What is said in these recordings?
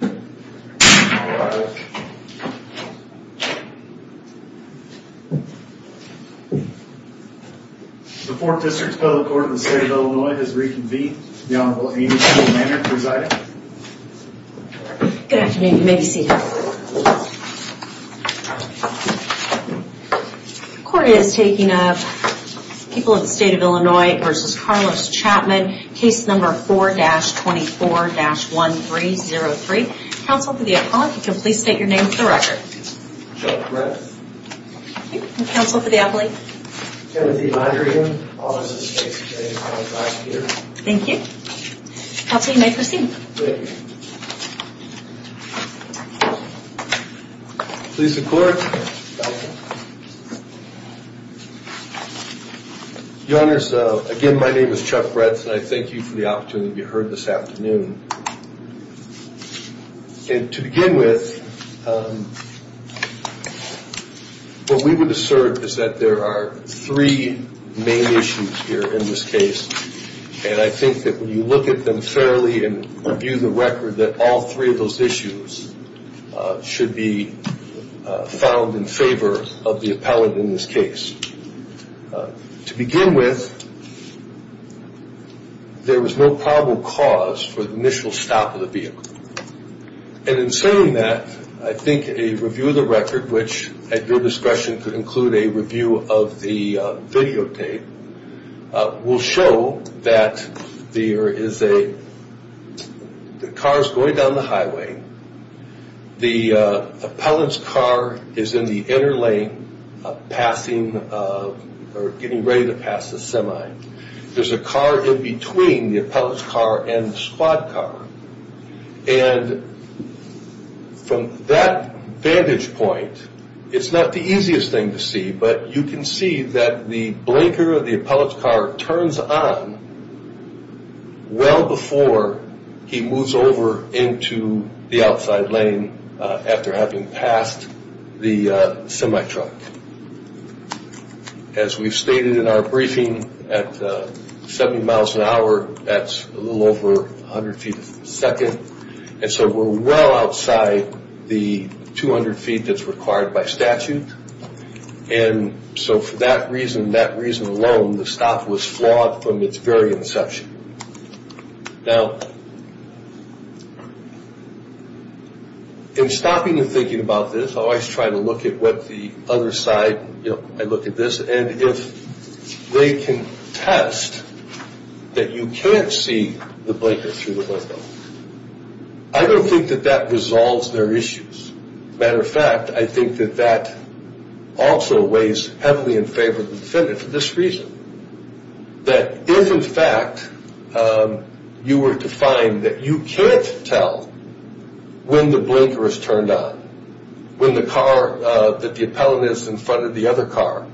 The 4th District Federal Court of the State of Illinois has reconvened. The Honorable Amy Chandler-Manner presiding. Good afternoon, you may be seated. Court is taking up People of the State of Illinois v. Carlos Chapman, case number 4-24-1303. Counsel for the appellant, if you could please state your name for the record. Chuck Brett. Counsel for the appellant. Kenneth E. Mondragon, Office of State Security and Countercrime Security. Thank you. Counsel, you may proceed. Thank you. Police and Courts. Your Honors, again, my name is Chuck Brett and I thank you for the opportunity to be heard this afternoon. And to begin with, what we would assert is that there are three main issues here in this case, and I think that when you look at them fairly and review the record, that all three of those issues should be found in favor of the appellant in this case. To begin with, there was no probable cause for the initial stop of the vehicle. And in saying that, I think a review of the record, which at your discretion could include a review of the videotape, will show that the car is going down the highway, the appellant's car is in the inner lane getting ready to pass the semi. There's a car in between the appellant's car and the squad car. And from that vantage point, it's not the easiest thing to see, but you can see that the blinker of the appellant's car turns on well before he moves over into the outside lane after having passed the semi truck. As we've stated in our briefing, at 70 miles an hour, that's a little over 100 feet a second, and so we're well outside the 200 feet that's required by statute. And so for that reason, that reason alone, the stop was flawed from its very inception. Now, in stopping and thinking about this, I always try to look at what the other side, you know, I look at this, and if they can test that you can't see the blinker through the window, I don't think that that resolves their issues. As a matter of fact, I think that that also weighs heavily in favor of the defendant for this reason, that if, in fact, you were to find that you can't tell when the blinker is turned on, when the car that the appellant is in front of the other car,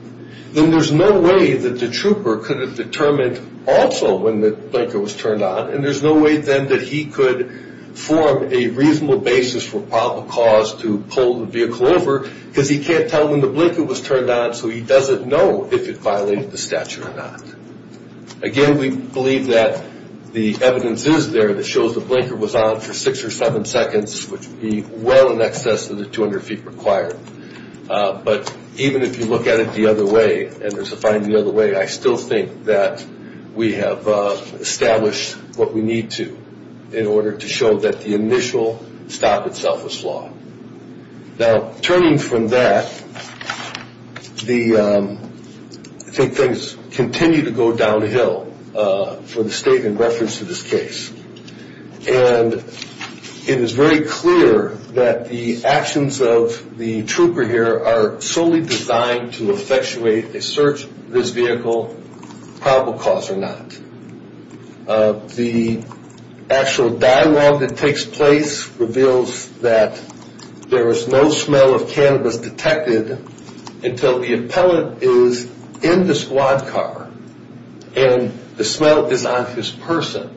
then there's no way that the trooper could have determined also when the blinker was turned on, and there's no way then that he could form a reasonable basis for probable cause to pull the vehicle over, because he can't tell when the blinker was turned on, so he doesn't know if it violated the statute or not. Again, we believe that the evidence is there that shows the blinker was on for six or seven seconds, which would be well in excess of the 200 feet required. But even if you look at it the other way, and there's a finding the other way, I still think that we have established what we need to in order to show that the initial stop itself was flawed. Now, turning from that, I think things continue to go downhill for the state in reference to this case. And it is very clear that the actions of the trooper here are solely designed to effectuate a search of this vehicle, probable cause or not. The actual dialogue that takes place reveals that there is no smell of cannabis detected until the appellant is in the squad car and the smell is on his person.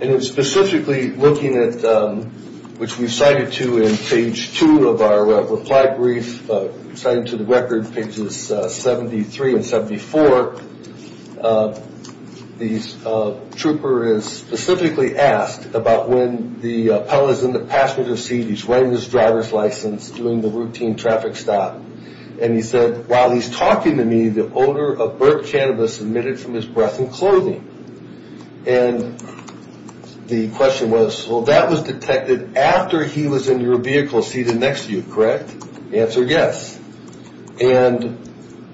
And specifically looking at, which we cited to in page two of our reply brief, cited to the record pages 73 and 74, the trooper is specifically asked about when the appellant is in the passenger seat, he's wearing his driver's license, doing the routine traffic stop. And he said, while he's talking to me, the odor of burnt cannabis emitted from his breath and clothing. And the question was, well, that was detected after he was in your vehicle seated next to you, correct? The answer, yes. And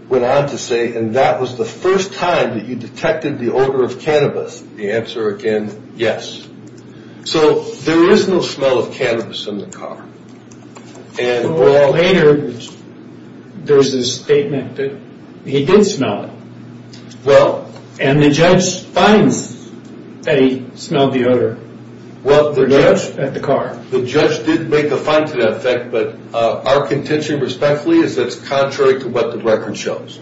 went on to say, and that was the first time that you detected the odor of cannabis. The answer again, yes. So there is no smell of cannabis in the car. Later, there was a statement that he did smell it. And the judge finds that he smelled the odor. The judge at the car. The judge did make a find to that effect, but our contention respectfully is that it's contrary to what the record shows.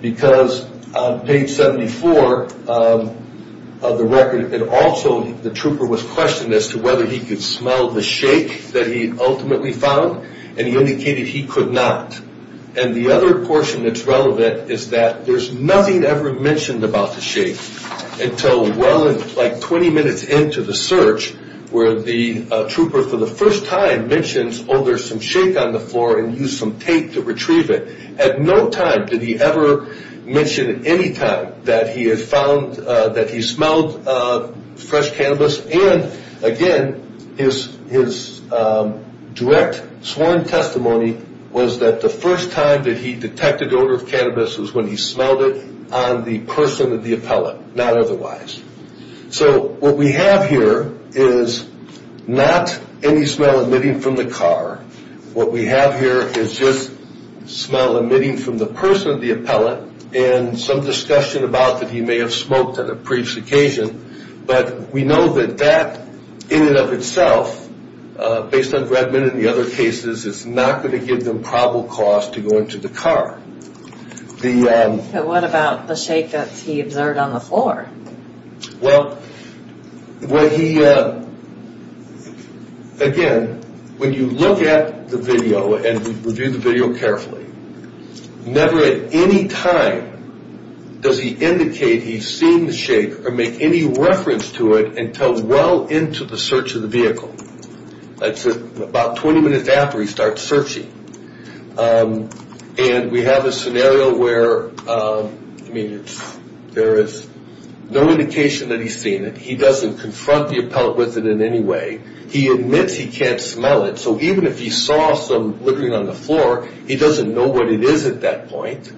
Because on page 74 of the record, it also, the trooper was questioned as to whether he could smell the shake that he ultimately found, and he indicated he could not. And the other portion that's relevant is that there's nothing ever mentioned about the shake until well, like 20 minutes into the search, where the trooper for the first time mentions, oh, there's some shake on the floor, and used some tape to retrieve it. At no time did he ever mention any time that he had found, that he smelled fresh cannabis. And again, his direct sworn testimony was that the first time that he detected the odor of cannabis was when he smelled it on the person of the appellant, not otherwise. So what we have here is not any smell emitting from the car. What we have here is just smell emitting from the person of the appellant, and some discussion about that he may have smoked on a previous occasion. But we know that that in and of itself, based on Bredman and the other cases, is not going to give them probable cause to go into the car. So what about the shake that he observed on the floor? Well, again, when you look at the video and review the video carefully, never at any time does he indicate he's seen the shake or make any reference to it until well into the search of the vehicle. That's about 20 minutes after he starts searching. And we have a scenario where there is no indication that he's seen it. He doesn't confront the appellant with it in any way. He admits he can't smell it. So even if he saw some littering on the floor, he doesn't know what it is at that point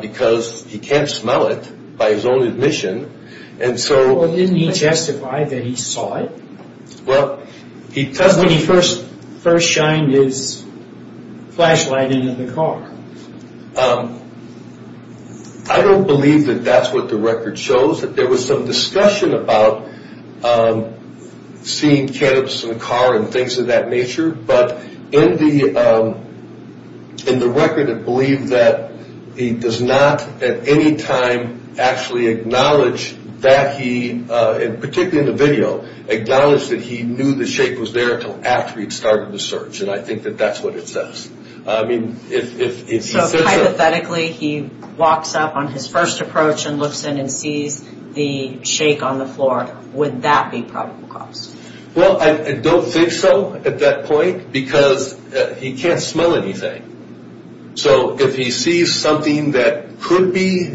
because he can't smell it by his own admission. Well, didn't he justify that he saw it? Because when he first shined his flashlight into the car. I don't believe that that's what the record shows. There was some discussion about seeing cannabis in the car and things of that nature. But in the record it believed that he does not at any time actually acknowledge that he, particularly in the video, acknowledge that he knew the shake was there until after he started the search. And I think that that's what it says. I mean, if he says that. So hypothetically he walks up on his first approach and looks in and sees the shake on the floor. Would that be probable cause? Well, I don't think so at that point because he can't smell anything. So if he sees something that could be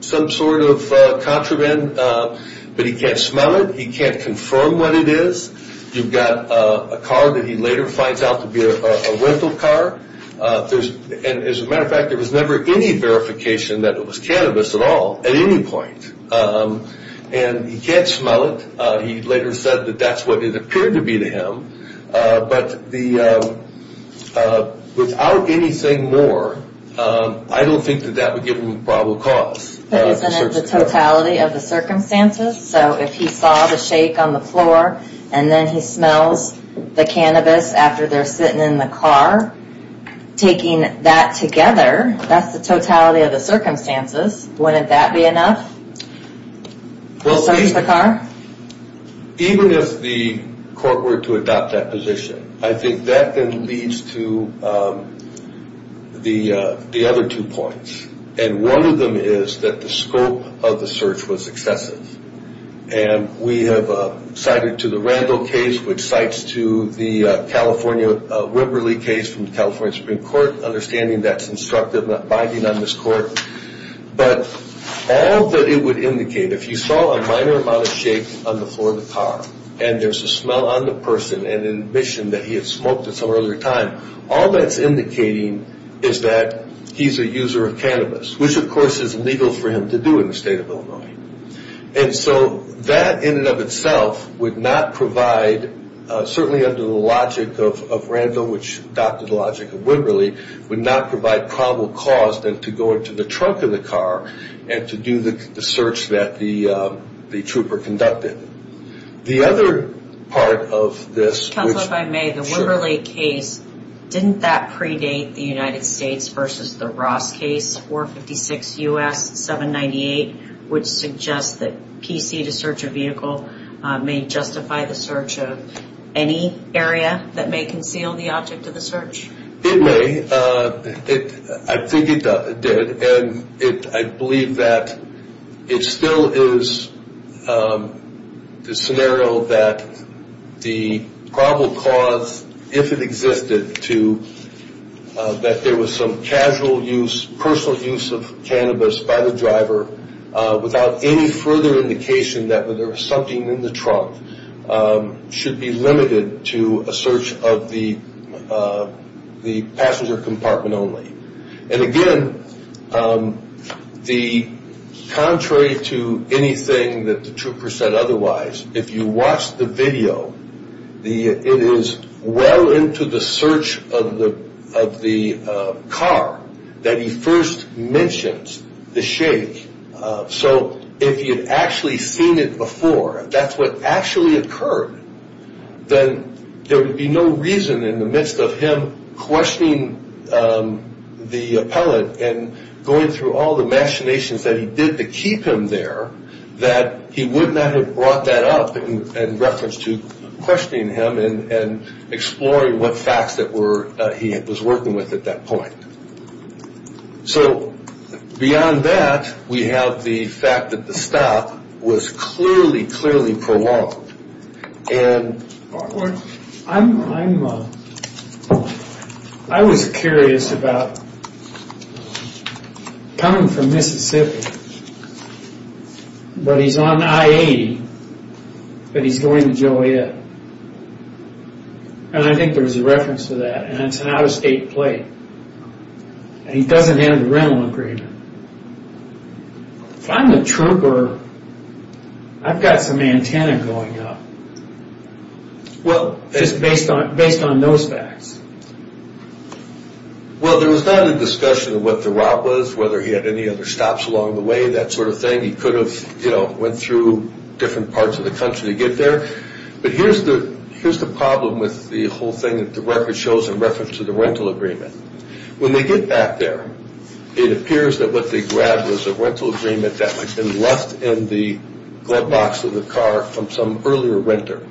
some sort of contraband, but he can't smell it. He can't confirm what it is. You've got a car that he later finds out to be a rental car. And as a matter of fact, there was never any verification that it was cannabis at all at any point. And he can't smell it. He later said that that's what it appeared to be to him. But without any saying more, I don't think that that would give him a probable cause. But isn't it the totality of the circumstances? So if he saw the shake on the floor and then he smells the cannabis after they're sitting in the car, taking that together, that's the totality of the circumstances. Wouldn't that be enough to search the car? Even if the court were to adopt that position, I think that then leads to the other two points. And one of them is that the scope of the search was excessive. And we have cited to the Randall case, which cites to the California, Wimberly case from the California Supreme Court, understanding that's instructive binding on this court. But all that it would indicate, if you saw a minor amount of shakes on the floor of the car and there's a smell on the person and an admission that he had smoked at some earlier time, all that's indicating is that he's a user of cannabis, which of course is illegal for him to do in the state of Illinois. And so that in and of itself would not provide, certainly under the logic of Randall, which adopted the logic of Wimberly, would not provide probable cause then to go into the trunk of the car and to do the search that the trooper conducted. The other part of this... Counselor, if I may, the Wimberly case, didn't that predate the United States versus the Ross case, 456 U.S. 798, which suggests that PC to search a vehicle may justify the search of any area that may conceal the object of the search? It may. I think it did. And I believe that it still is the scenario that the probable cause, if it existed, to that there was some casual use, personal use of cannabis by the driver without any further indication that there was something in the trunk should be limited to a search of the passenger compartment only. And again, contrary to anything that the trooper said otherwise, if you watch the video, it is well into the search of the car that he first mentions the shake. So if he had actually seen it before, that's what actually occurred, then there would be no reason in the midst of him questioning the appellant and going through all the machinations that he did to keep him there that he would not have brought that up in reference to questioning him and exploring what facts that he was working with at that point. So beyond that, we have the fact that the stop was clearly, clearly prolonged. I was curious about coming from Mississippi, but he's on I-80, but he's going to Joliet. And I think there's a reference to that. And it's an out-of-state plate. And he doesn't have the rental agreement. If I'm the trooper, I've got some antenna going up just based on those facts. Well, there was not a discussion of what the route was, whether he had any other stops along the way, that sort of thing. He could have went through different parts of the country to get there. But here's the problem with the whole thing that the record shows in reference to the rental agreement. When they get back there, it appears that what they grabbed was a rental agreement that had been left in the glove box of the car from some earlier renter.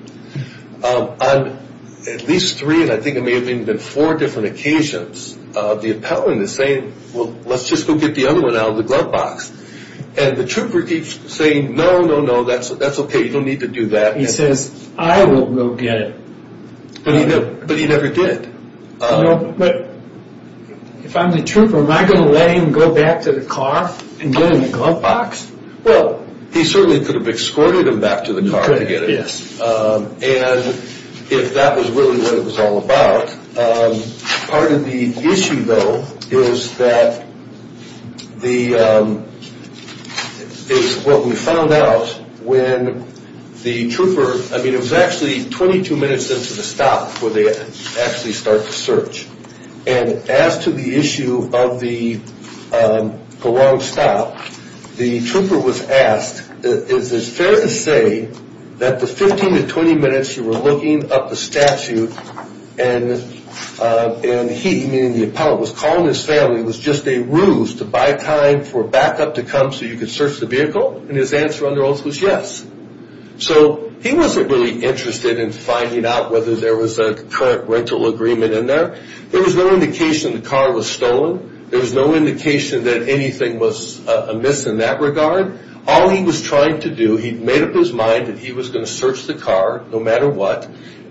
On at least three, and I think it may have even been four different occasions, the appellant is saying, well, let's just go get the other one out of the glove box. And the trooper keeps saying, no, no, no, that's okay, you don't need to do that. He says, I will go get it. But he never did. But if I'm the trooper, am I going to let him go back to the car and get it in the glove box? Well, he certainly could have escorted him back to the car to get it. And if that was really what it was all about, part of the issue, though, is that what we found out when the trooper, I mean, it was actually 22 minutes into the stop before they actually start the search. And as to the issue of the long stop, the trooper was asked, is it fair to say that the 15 to 20 minutes you were looking up the statute and he, meaning the appellant, was calling his family, it was just a ruse to buy time for backup to come so you could search the vehicle? And his answer under oath was yes. So he wasn't really interested in finding out whether there was a current rental agreement in there. There was no indication the car was stolen. There was no indication that anything was amiss in that regard. All he was trying to do, he made up his mind that he was going to search the car no matter what,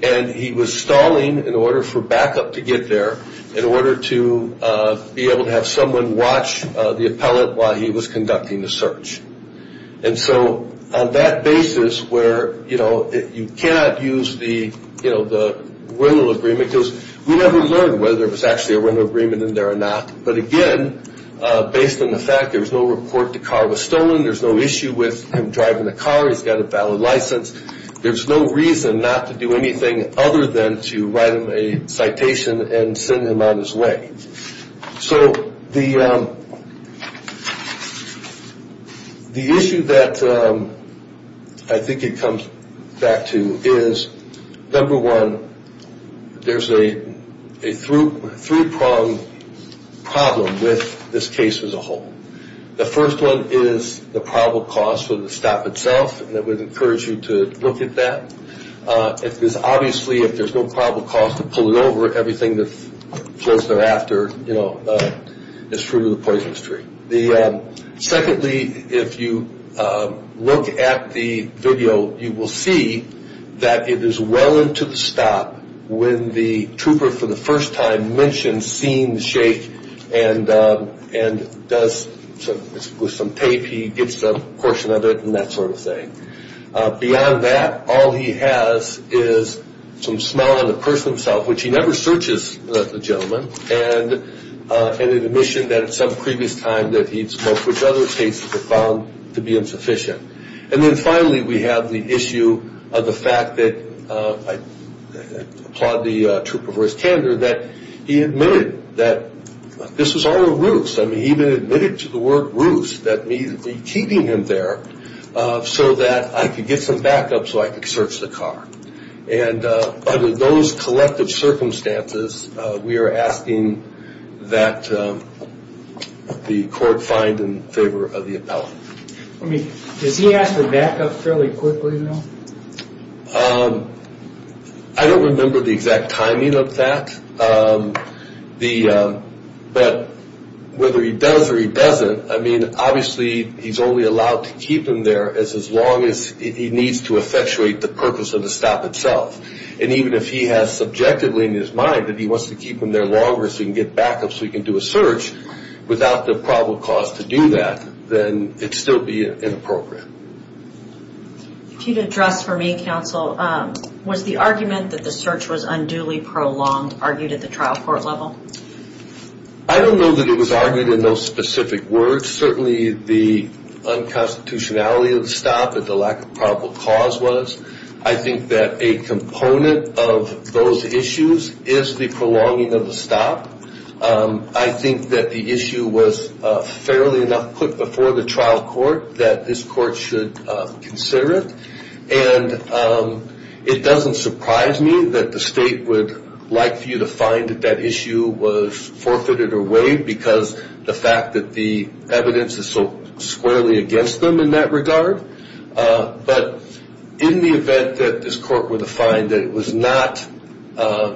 and he was stalling in order for backup to get there, in order to be able to have someone watch the appellant while he was conducting the search. And so on that basis where you cannot use the rental agreement because we never learned whether there was actually a rental agreement in there or not, but again, based on the fact there was no report the car was stolen, there's no issue with him driving the car, he's got a valid license, there's no reason not to do anything other than to write him a citation and send him on his way. So the issue that I think it comes back to is, number one, there's a three-pronged problem with this case as a whole. The first one is the probable cause for the stop itself, and I would encourage you to look at that. Obviously, if there's no probable cause to pull it over, everything that flows thereafter is through the poison stream. Secondly, if you look at the video, you will see that it is well into the stop when the trooper for the first time mentions seeing the shake and does, with some tape he gets a portion of it and that sort of thing. Beyond that, all he has is some smell on the person himself, which he never searches the gentleman, and an admission that at some previous time that he'd smoked, which other cases were found to be insufficient. And then finally, we have the issue of the fact that, I applaud the trooper for his candor, that he admitted that this was all a ruse. I mean, he even admitted to the word ruse, that he'd be keeping him there so that I could get some backup so I could search the car. And under those collective circumstances, we are asking that the court find in favor of the appellate. Does he ask for backup fairly quickly, though? I don't remember the exact timing of that. But whether he does or he doesn't, I mean, obviously he's only allowed to keep him there as long as he needs to effectuate the purpose of the stop itself. And even if he has subjectively in his mind that he wants to keep him there longer so he can get backup so he can do a search, without the probable cause to do that, then it'd still be inappropriate. If you'd address for me, counsel, was the argument that the search was unduly prolonged argued at the trial court level? I don't know that it was argued in those specific words. Certainly the unconstitutionality of the stop and the lack of probable cause was. I think that a component of those issues is the prolonging of the stop. I think that the issue was fairly enough put before the trial court that this court should consider it. And it doesn't surprise me that the state would like for you to find that that issue was forfeited or waived because the fact that the evidence is so squarely against them in that regard. But in the event that this court were to find that it was not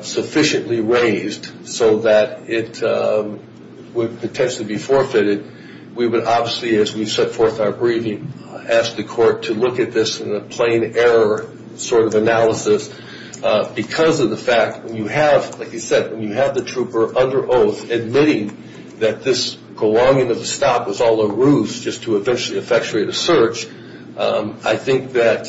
sufficiently raised so that it would potentially be forfeited, we would obviously, as we set forth our briefing, ask the court to look at this in a plain error sort of analysis. Because of the fact, when you have, like you said, when you have the trooper under oath admitting that this prolonging of the stop was all a ruse just to eventually effectuate a search, I think that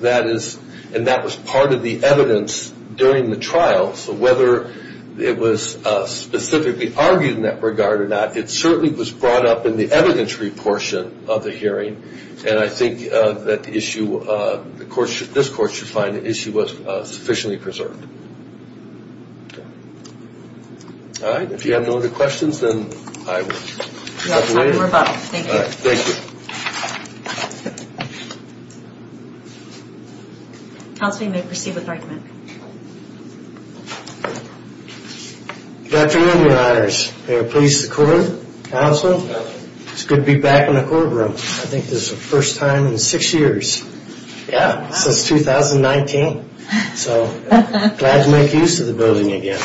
that is, and that was part of the evidence during the trial. So whether it was specifically argued in that regard or not, it certainly was brought up in the evidentiary portion of the hearing. And I think that the issue, this court should find the issue was sufficiently preserved. All right. If you have no other questions, then I will wrap it up. Thank you. Thank you. Counsel, you may proceed with argument. Good afternoon, your honors. May I please the court, counsel? It's good to be back in the courtroom. I think this is the first time in six years. Yeah, since 2019. So glad to make use of the building again.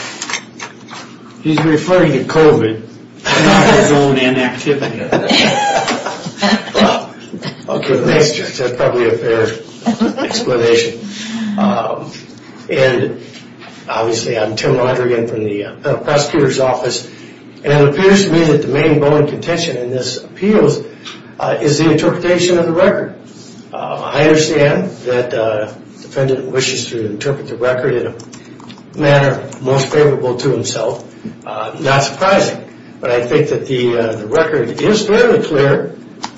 He's referring to COVID, not his own inactivity. Okay. That's probably a fair explanation. And obviously I'm Tim Rodriguez from the prosecutor's office. And it appears to me that the main bone of contention in this appeals is the interpretation of the record. I understand that the defendant wishes to interpret the record in a manner most favorable to himself. Not surprising. But I think that the record is fairly clear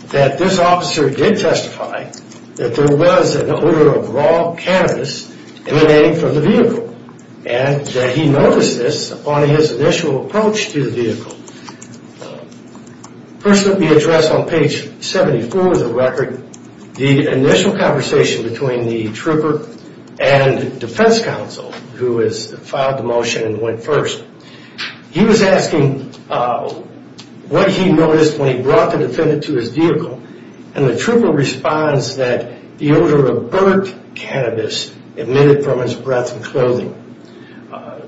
that this officer did testify that there was an odor of raw cannabis emanating from the vehicle. And that he noticed this upon his initial approach to the vehicle. First, let me address on page 74 of the record the initial conversation between the trooper and defense counsel, who has filed the motion and went first. He was asking what he noticed when he brought the defendant to his vehicle. And the trooper responds that the odor of burnt cannabis emitted from his breath and clothing.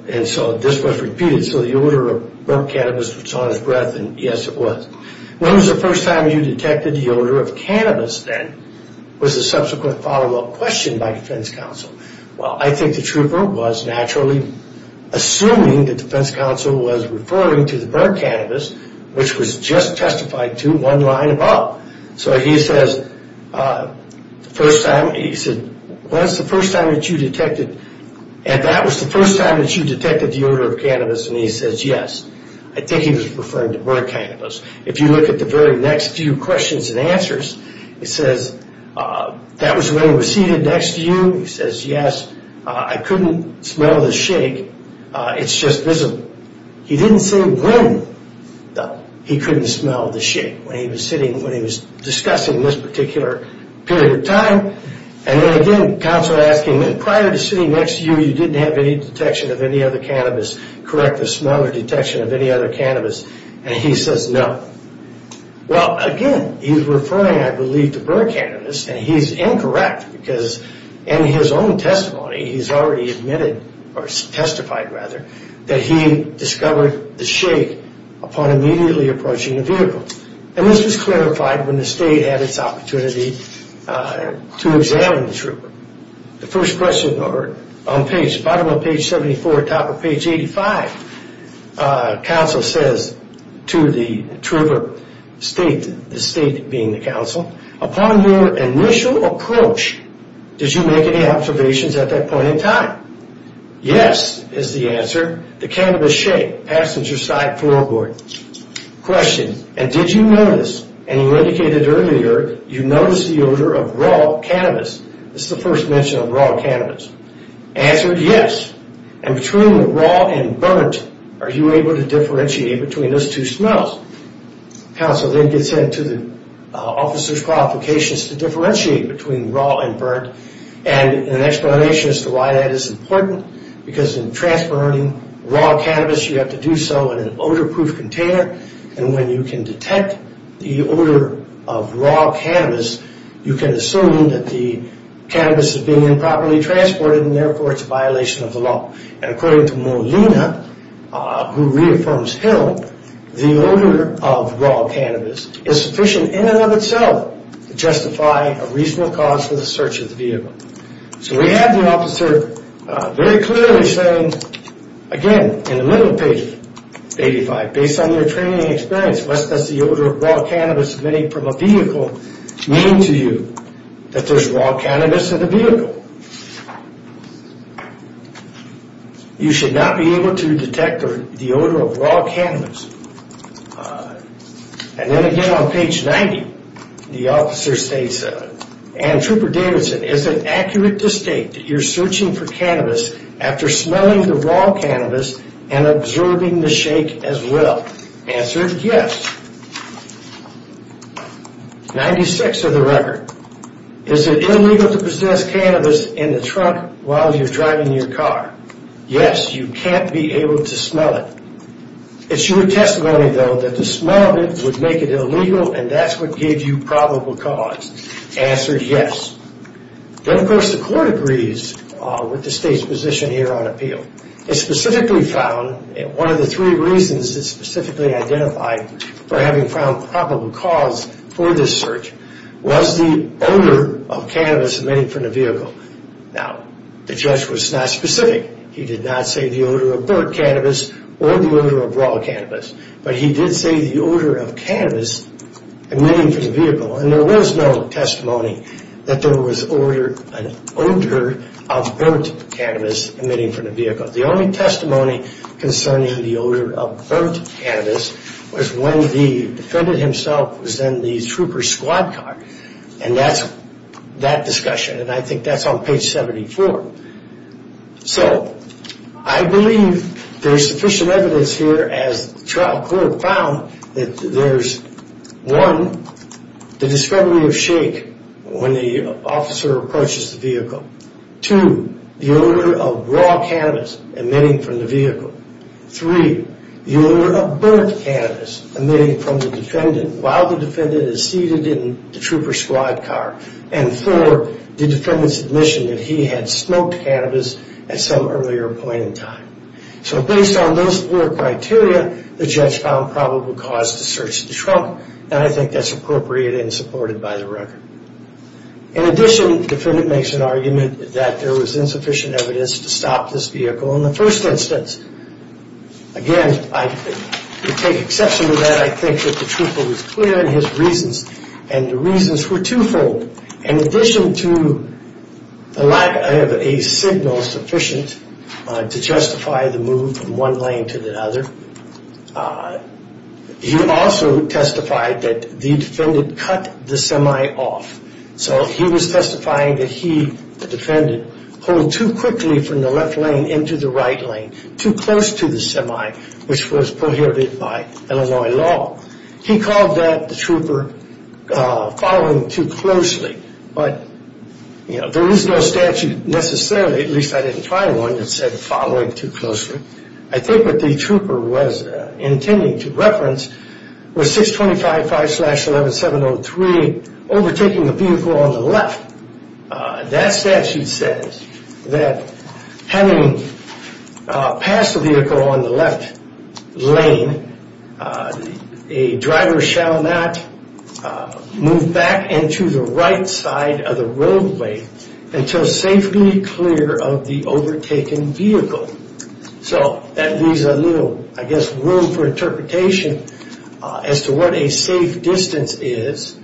And so this was repeated. So the odor of burnt cannabis was on his breath, and yes, it was. When was the first time you detected the odor of cannabis, then, was the subsequent follow-up question by defense counsel. Well, I think the trooper was naturally assuming that defense counsel was referring to the burnt cannabis, which was just testified to one line above. So he says, the first time, he said, when was the first time that you detected, and that was the first time that you detected the odor of cannabis. And he says, yes, I think he was referring to burnt cannabis. If you look at the very next few questions and answers, he says, that was when he was seated next to you. He says, yes, I couldn't smell the shake. It's just visible. He didn't say when he couldn't smell the shake when he was sitting, when he was discussing this particular period of time. And then again, counsel asked him, prior to sitting next to you, you didn't have any detection of any other cannabis. Correct the smell or detection of any other cannabis. And he says, no. Well, again, he's referring, I believe, to burnt cannabis. And he's incorrect, because in his own testimony, he's already admitted, or testified rather, that he discovered the shake upon immediately approaching the vehicle. And this was clarified when the state had its opportunity to examine the trooper. The first question on page, bottom of page 74, top of page 85, counsel says to the trooper, the state being the counsel, upon your initial approach, did you make any observations at that point in time? Yes, is the answer. The cannabis shake, passenger side floorboard. Question, and did you notice, and you indicated earlier, you noticed the odor of raw cannabis? This is the first mention of raw cannabis. Answer, yes. And between the raw and burnt, are you able to differentiate between those two smells? Counsel then gets into the officer's qualifications to differentiate between raw and burnt, and an explanation as to why that is important, because in transferring raw cannabis, you have to do so in an odor-proof container, and when you can detect the odor of raw cannabis, you can assume that the cannabis is being improperly transported, and therefore it's a violation of the law. And according to Molina, who reaffirms Hill, the odor of raw cannabis is sufficient in and of itself to justify a reasonable cause for the search of the vehicle. So we have the officer very clearly saying, again, in the middle of page 85, based on your training and experience, what does the odor of raw cannabis emanating from a vehicle mean to you, that there's raw cannabis in the vehicle? You should not be able to detect the odor of raw cannabis. And then again on page 90, the officer states, Ann Trooper Davidson, is it accurate to state that you're searching for cannabis after smelling the raw cannabis and observing the shake as well? Answer, yes. 96 of the record. Is it illegal to possess cannabis in the trunk while you're driving your car? Yes, you can't be able to smell it. It's your testimony, though, that the smell of it would make it illegal and that's what gave you probable cause. Answer, yes. Then, of course, the court agrees with the state's position here on appeal. It specifically found, one of the three reasons it specifically identified, for having found probable cause for this search, was the odor of cannabis emanating from the vehicle. Now, the judge was not specific. He did not say the odor of burnt cannabis or the odor of raw cannabis, but he did say the odor of cannabis emanating from the vehicle. And there was no testimony that there was an odor of burnt cannabis emanating from the vehicle. The only testimony concerning the odor of burnt cannabis was when the defendant himself was in the trooper's squad car. And that's that discussion, and I think that's on page 74. So I believe there's sufficient evidence here, as the trial court found, that there's, one, the discrepancy of shake when the officer approaches the vehicle. Two, the odor of raw cannabis emanating from the vehicle. Three, the odor of burnt cannabis emanating from the defendant while the defendant is seated in the trooper's squad car. And four, the defendant's admission that he had smoked cannabis at some earlier point in time. So based on those four criteria, the judge found probable cause to search the trunk, and I think that's appropriate and supported by the record. In addition, the defendant makes an argument that there was insufficient evidence to stop this vehicle in the first instance. Again, to take exception to that, I think that the trooper was clear in his reasons, and the reasons were twofold. In addition to the lack of a signal sufficient to justify the move from one lane to the other, he also testified that the defendant cut the semi off. So he was testifying that he, the defendant, pulled too quickly from the left lane into the right lane, too close to the semi, which was prohibited by Illinois law. He called that, the trooper, following too closely, but there is no statute necessarily, at least I didn't try one, that said following too closely. I think what the trooper was intending to reference was 625.5-11703, overtaking the vehicle on the left. That statute says that having passed the vehicle on the left lane, a driver shall not move back into the right side of the roadway until safety clear of the overtaken vehicle. So that leaves a little, I guess, room for interpretation as to what a safe distance is.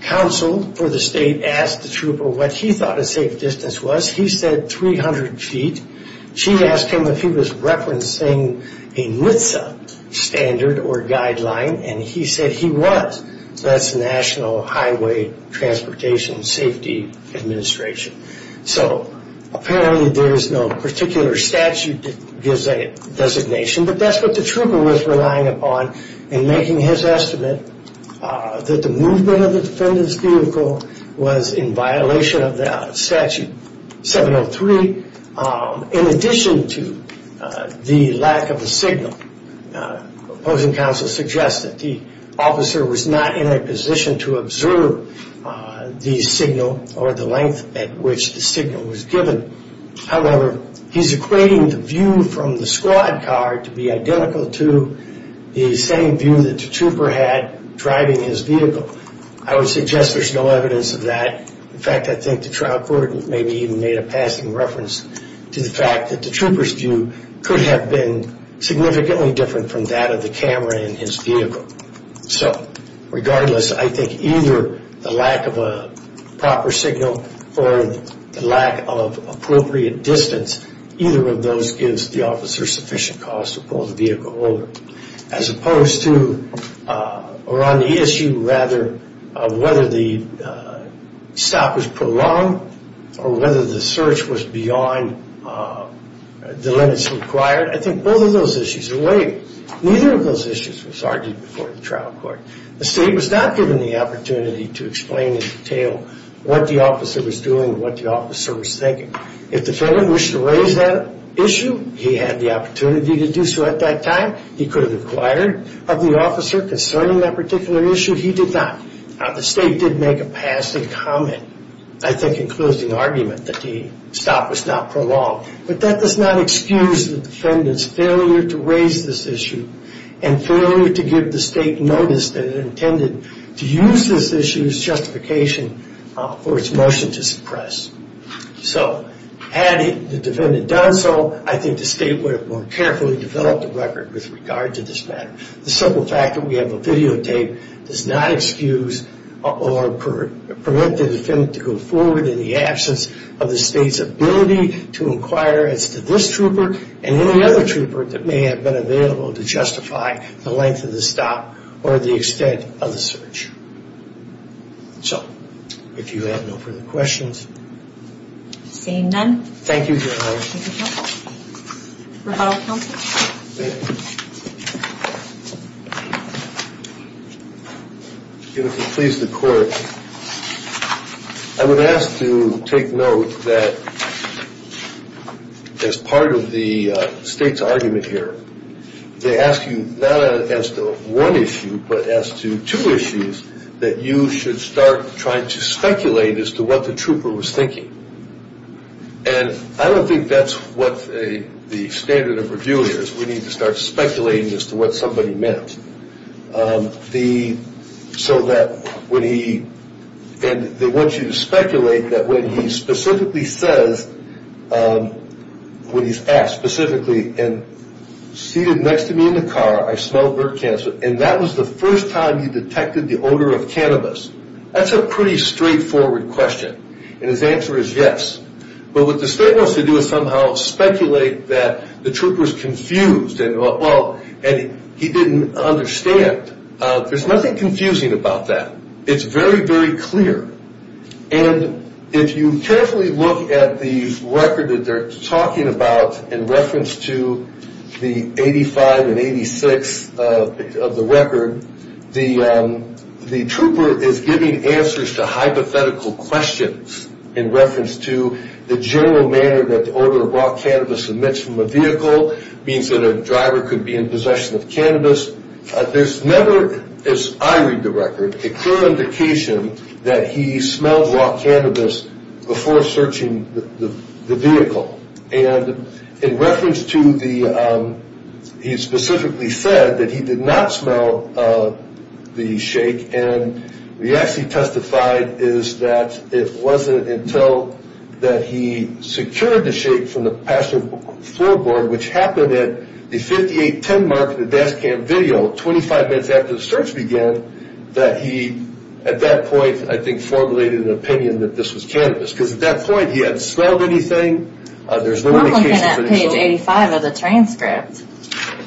Counsel for the state asked the trooper what he thought a safe distance was. He said 300 feet. She asked him if he was referencing a NHTSA standard or guideline, and he said he was. So that's the National Highway Transportation Safety Administration. So apparently there is no particular statute that gives a designation, but that's what the trooper was relying upon in making his estimate that the movement of the defendant's vehicle was in violation of the statute 703. In addition to the lack of a signal, opposing counsel suggests that the officer was not in a position to observe the signal or the length at which the signal was given. However, he's equating the view from the squad car to be identical to the same view that the trooper had driving his vehicle. I would suggest there's no evidence of that. In fact, I think the trial court maybe even made a passing reference to the fact that the trooper's view could have been significantly different from that of the camera in his vehicle. So regardless, I think either the lack of a proper signal or the lack of appropriate distance, either of those gives the officer sufficient cause to pull the vehicle over. As opposed to or on the issue rather of whether the stop was prolonged or whether the search was beyond the limits required, I think both of those issues are weighted. Neither of those issues was argued before the trial court. The state was not given the opportunity to explain in detail what the officer was doing or what the officer was thinking. If the defendant wished to raise that issue, he had the opportunity to do so at that time. He could have inquired of the officer concerning that particular issue. He did not. The state did make a passing comment. I think it includes the argument that the stop was not prolonged. But that does not excuse the defendant's failure to raise this issue and failure to give the state notice that it intended to use this issue as justification for its motion to suppress. So had the defendant done so, I think the state would have more carefully developed a record with regard to this matter. The simple fact that we have a videotape does not excuse or permit the defendant to go forward in the absence of the state's ability to inquire as to this trooper and any other trooper that may have been available to justify the length of the stop or the extent of the search. So if you have no further questions. Seeing none. Thank you, Your Honor. Any questions of counsel? Rebuttal of counsel? If it pleases the court, I would ask to take note that as part of the state's argument here, they ask you not as to one issue but as to two issues that you should start trying to speculate as to what the trooper was thinking. And I don't think that's what the standard of review is. We need to start speculating as to what somebody meant. So that when he, and they want you to speculate that when he specifically says, when he's asked specifically, and seated next to me in the car, I smelled bird cancer, and that was the first time he detected the odor of cannabis. That's a pretty straightforward question. And his answer is yes. But what the state wants to do is somehow speculate that the trooper is confused and he didn't understand. There's nothing confusing about that. It's very, very clear. And if you carefully look at the record that they're talking about in reference to the 85 and 86 of the record, the trooper is giving answers to hypothetical questions in reference to the general manner that the odor of raw cannabis emits from a vehicle, means that a driver could be in possession of cannabis. There's never, as I read the record, a clear indication that he smelled raw cannabis before searching the vehicle. And in reference to the, he specifically said that he did not smell the shake, and what he actually testified is that it wasn't until that he secured the shake from the passenger floorboard, which happened at the 5810 mark in the DASCAM video, 25 minutes after the search began, that he, at that point, I think, formulated an opinion that this was cannabis. Because at that point, he hadn't smelled anything. We're looking at page 85 of the transcript,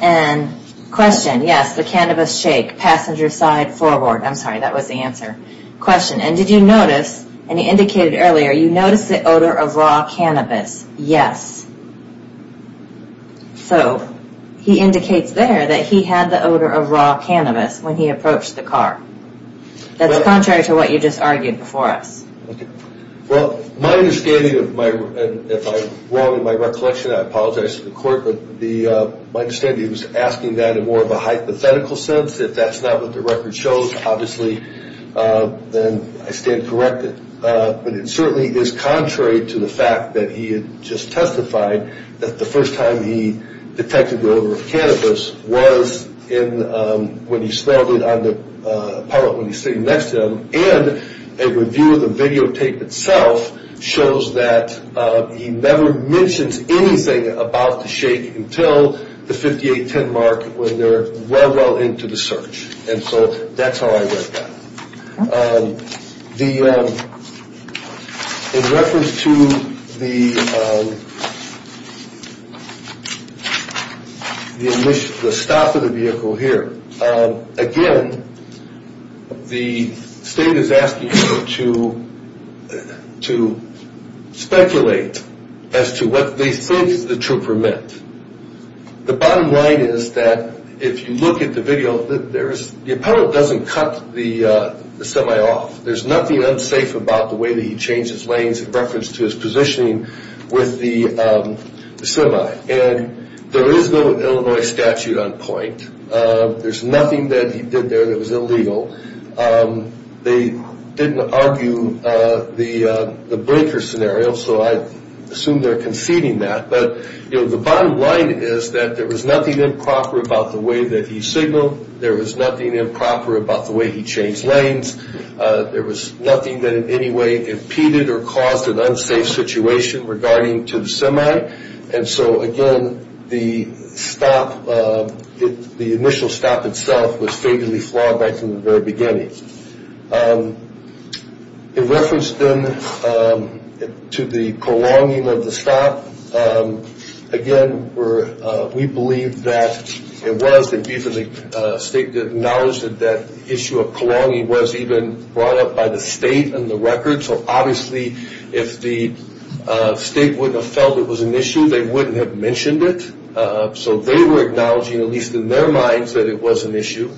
and question, yes, the cannabis shake, passenger side, floorboard. I'm sorry, that was the answer. Question, and did you notice, and he indicated earlier, you noticed the odor of raw cannabis? Yes. So, he indicates there that he had the odor of raw cannabis when he approached the car. That's contrary to what you just argued before us. Well, my understanding, and if I'm wrong in my recollection, I apologize to the court, but my understanding is he was asking that in more of a hypothetical sense. If that's not what the record shows, obviously, then I stand corrected. But it certainly is contrary to the fact that he had just testified that the first time he detected the odor of cannabis was when he smelled it on the, probably when he was sitting next to him, and a review of the videotape itself shows that he never mentions anything about the shake until the 5810 mark when they're well, well into the search. And so that's how I read that. In reference to the stop of the vehicle here, again, the state is asking you to speculate as to what they think the trooper meant. The bottom line is that if you look at the video, the appellate doesn't cut the semi off. There's nothing unsafe about the way that he changed his lanes in reference to his positioning with the semi. And there is no Illinois statute on point. There's nothing that he did there that was illegal. They didn't argue the breaker scenario, so I assume they're conceding that. But the bottom line is that there was nothing improper about the way that he signaled. There was nothing improper about the way he changed lanes. There was nothing that in any way impeded or caused an unsafe situation regarding to the semi. And so, again, the stop, the initial stop itself was favorably flawed right from the very beginning. In reference then to the prolonging of the stop, again, we believe that it was. The state acknowledged that that issue of prolonging was even brought up by the state in the record. So, obviously, if the state wouldn't have felt it was an issue, they wouldn't have mentioned it. So they were acknowledging, at least in their minds, that it was an issue.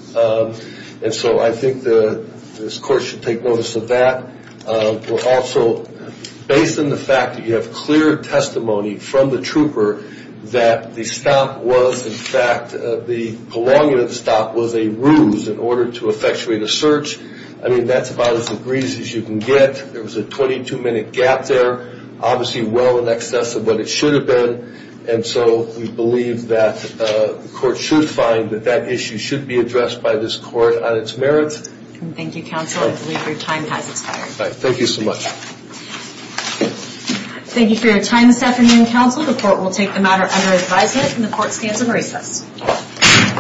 And so I think this court should take notice of that. Also, based on the fact that you have clear testimony from the trooper that the stop was, in fact, the prolonging of the stop was a ruse in order to effectuate a search. I mean, that's about as egregious as you can get. There was a 22-minute gap there, obviously well in excess of what it should have been. And so we believe that the court should find that that issue should be addressed by this court on its merits. Thank you, counsel. I believe your time has expired. Thank you so much. Thank you for your time this afternoon, counsel. The court will take the matter under advisement and the court stands at recess.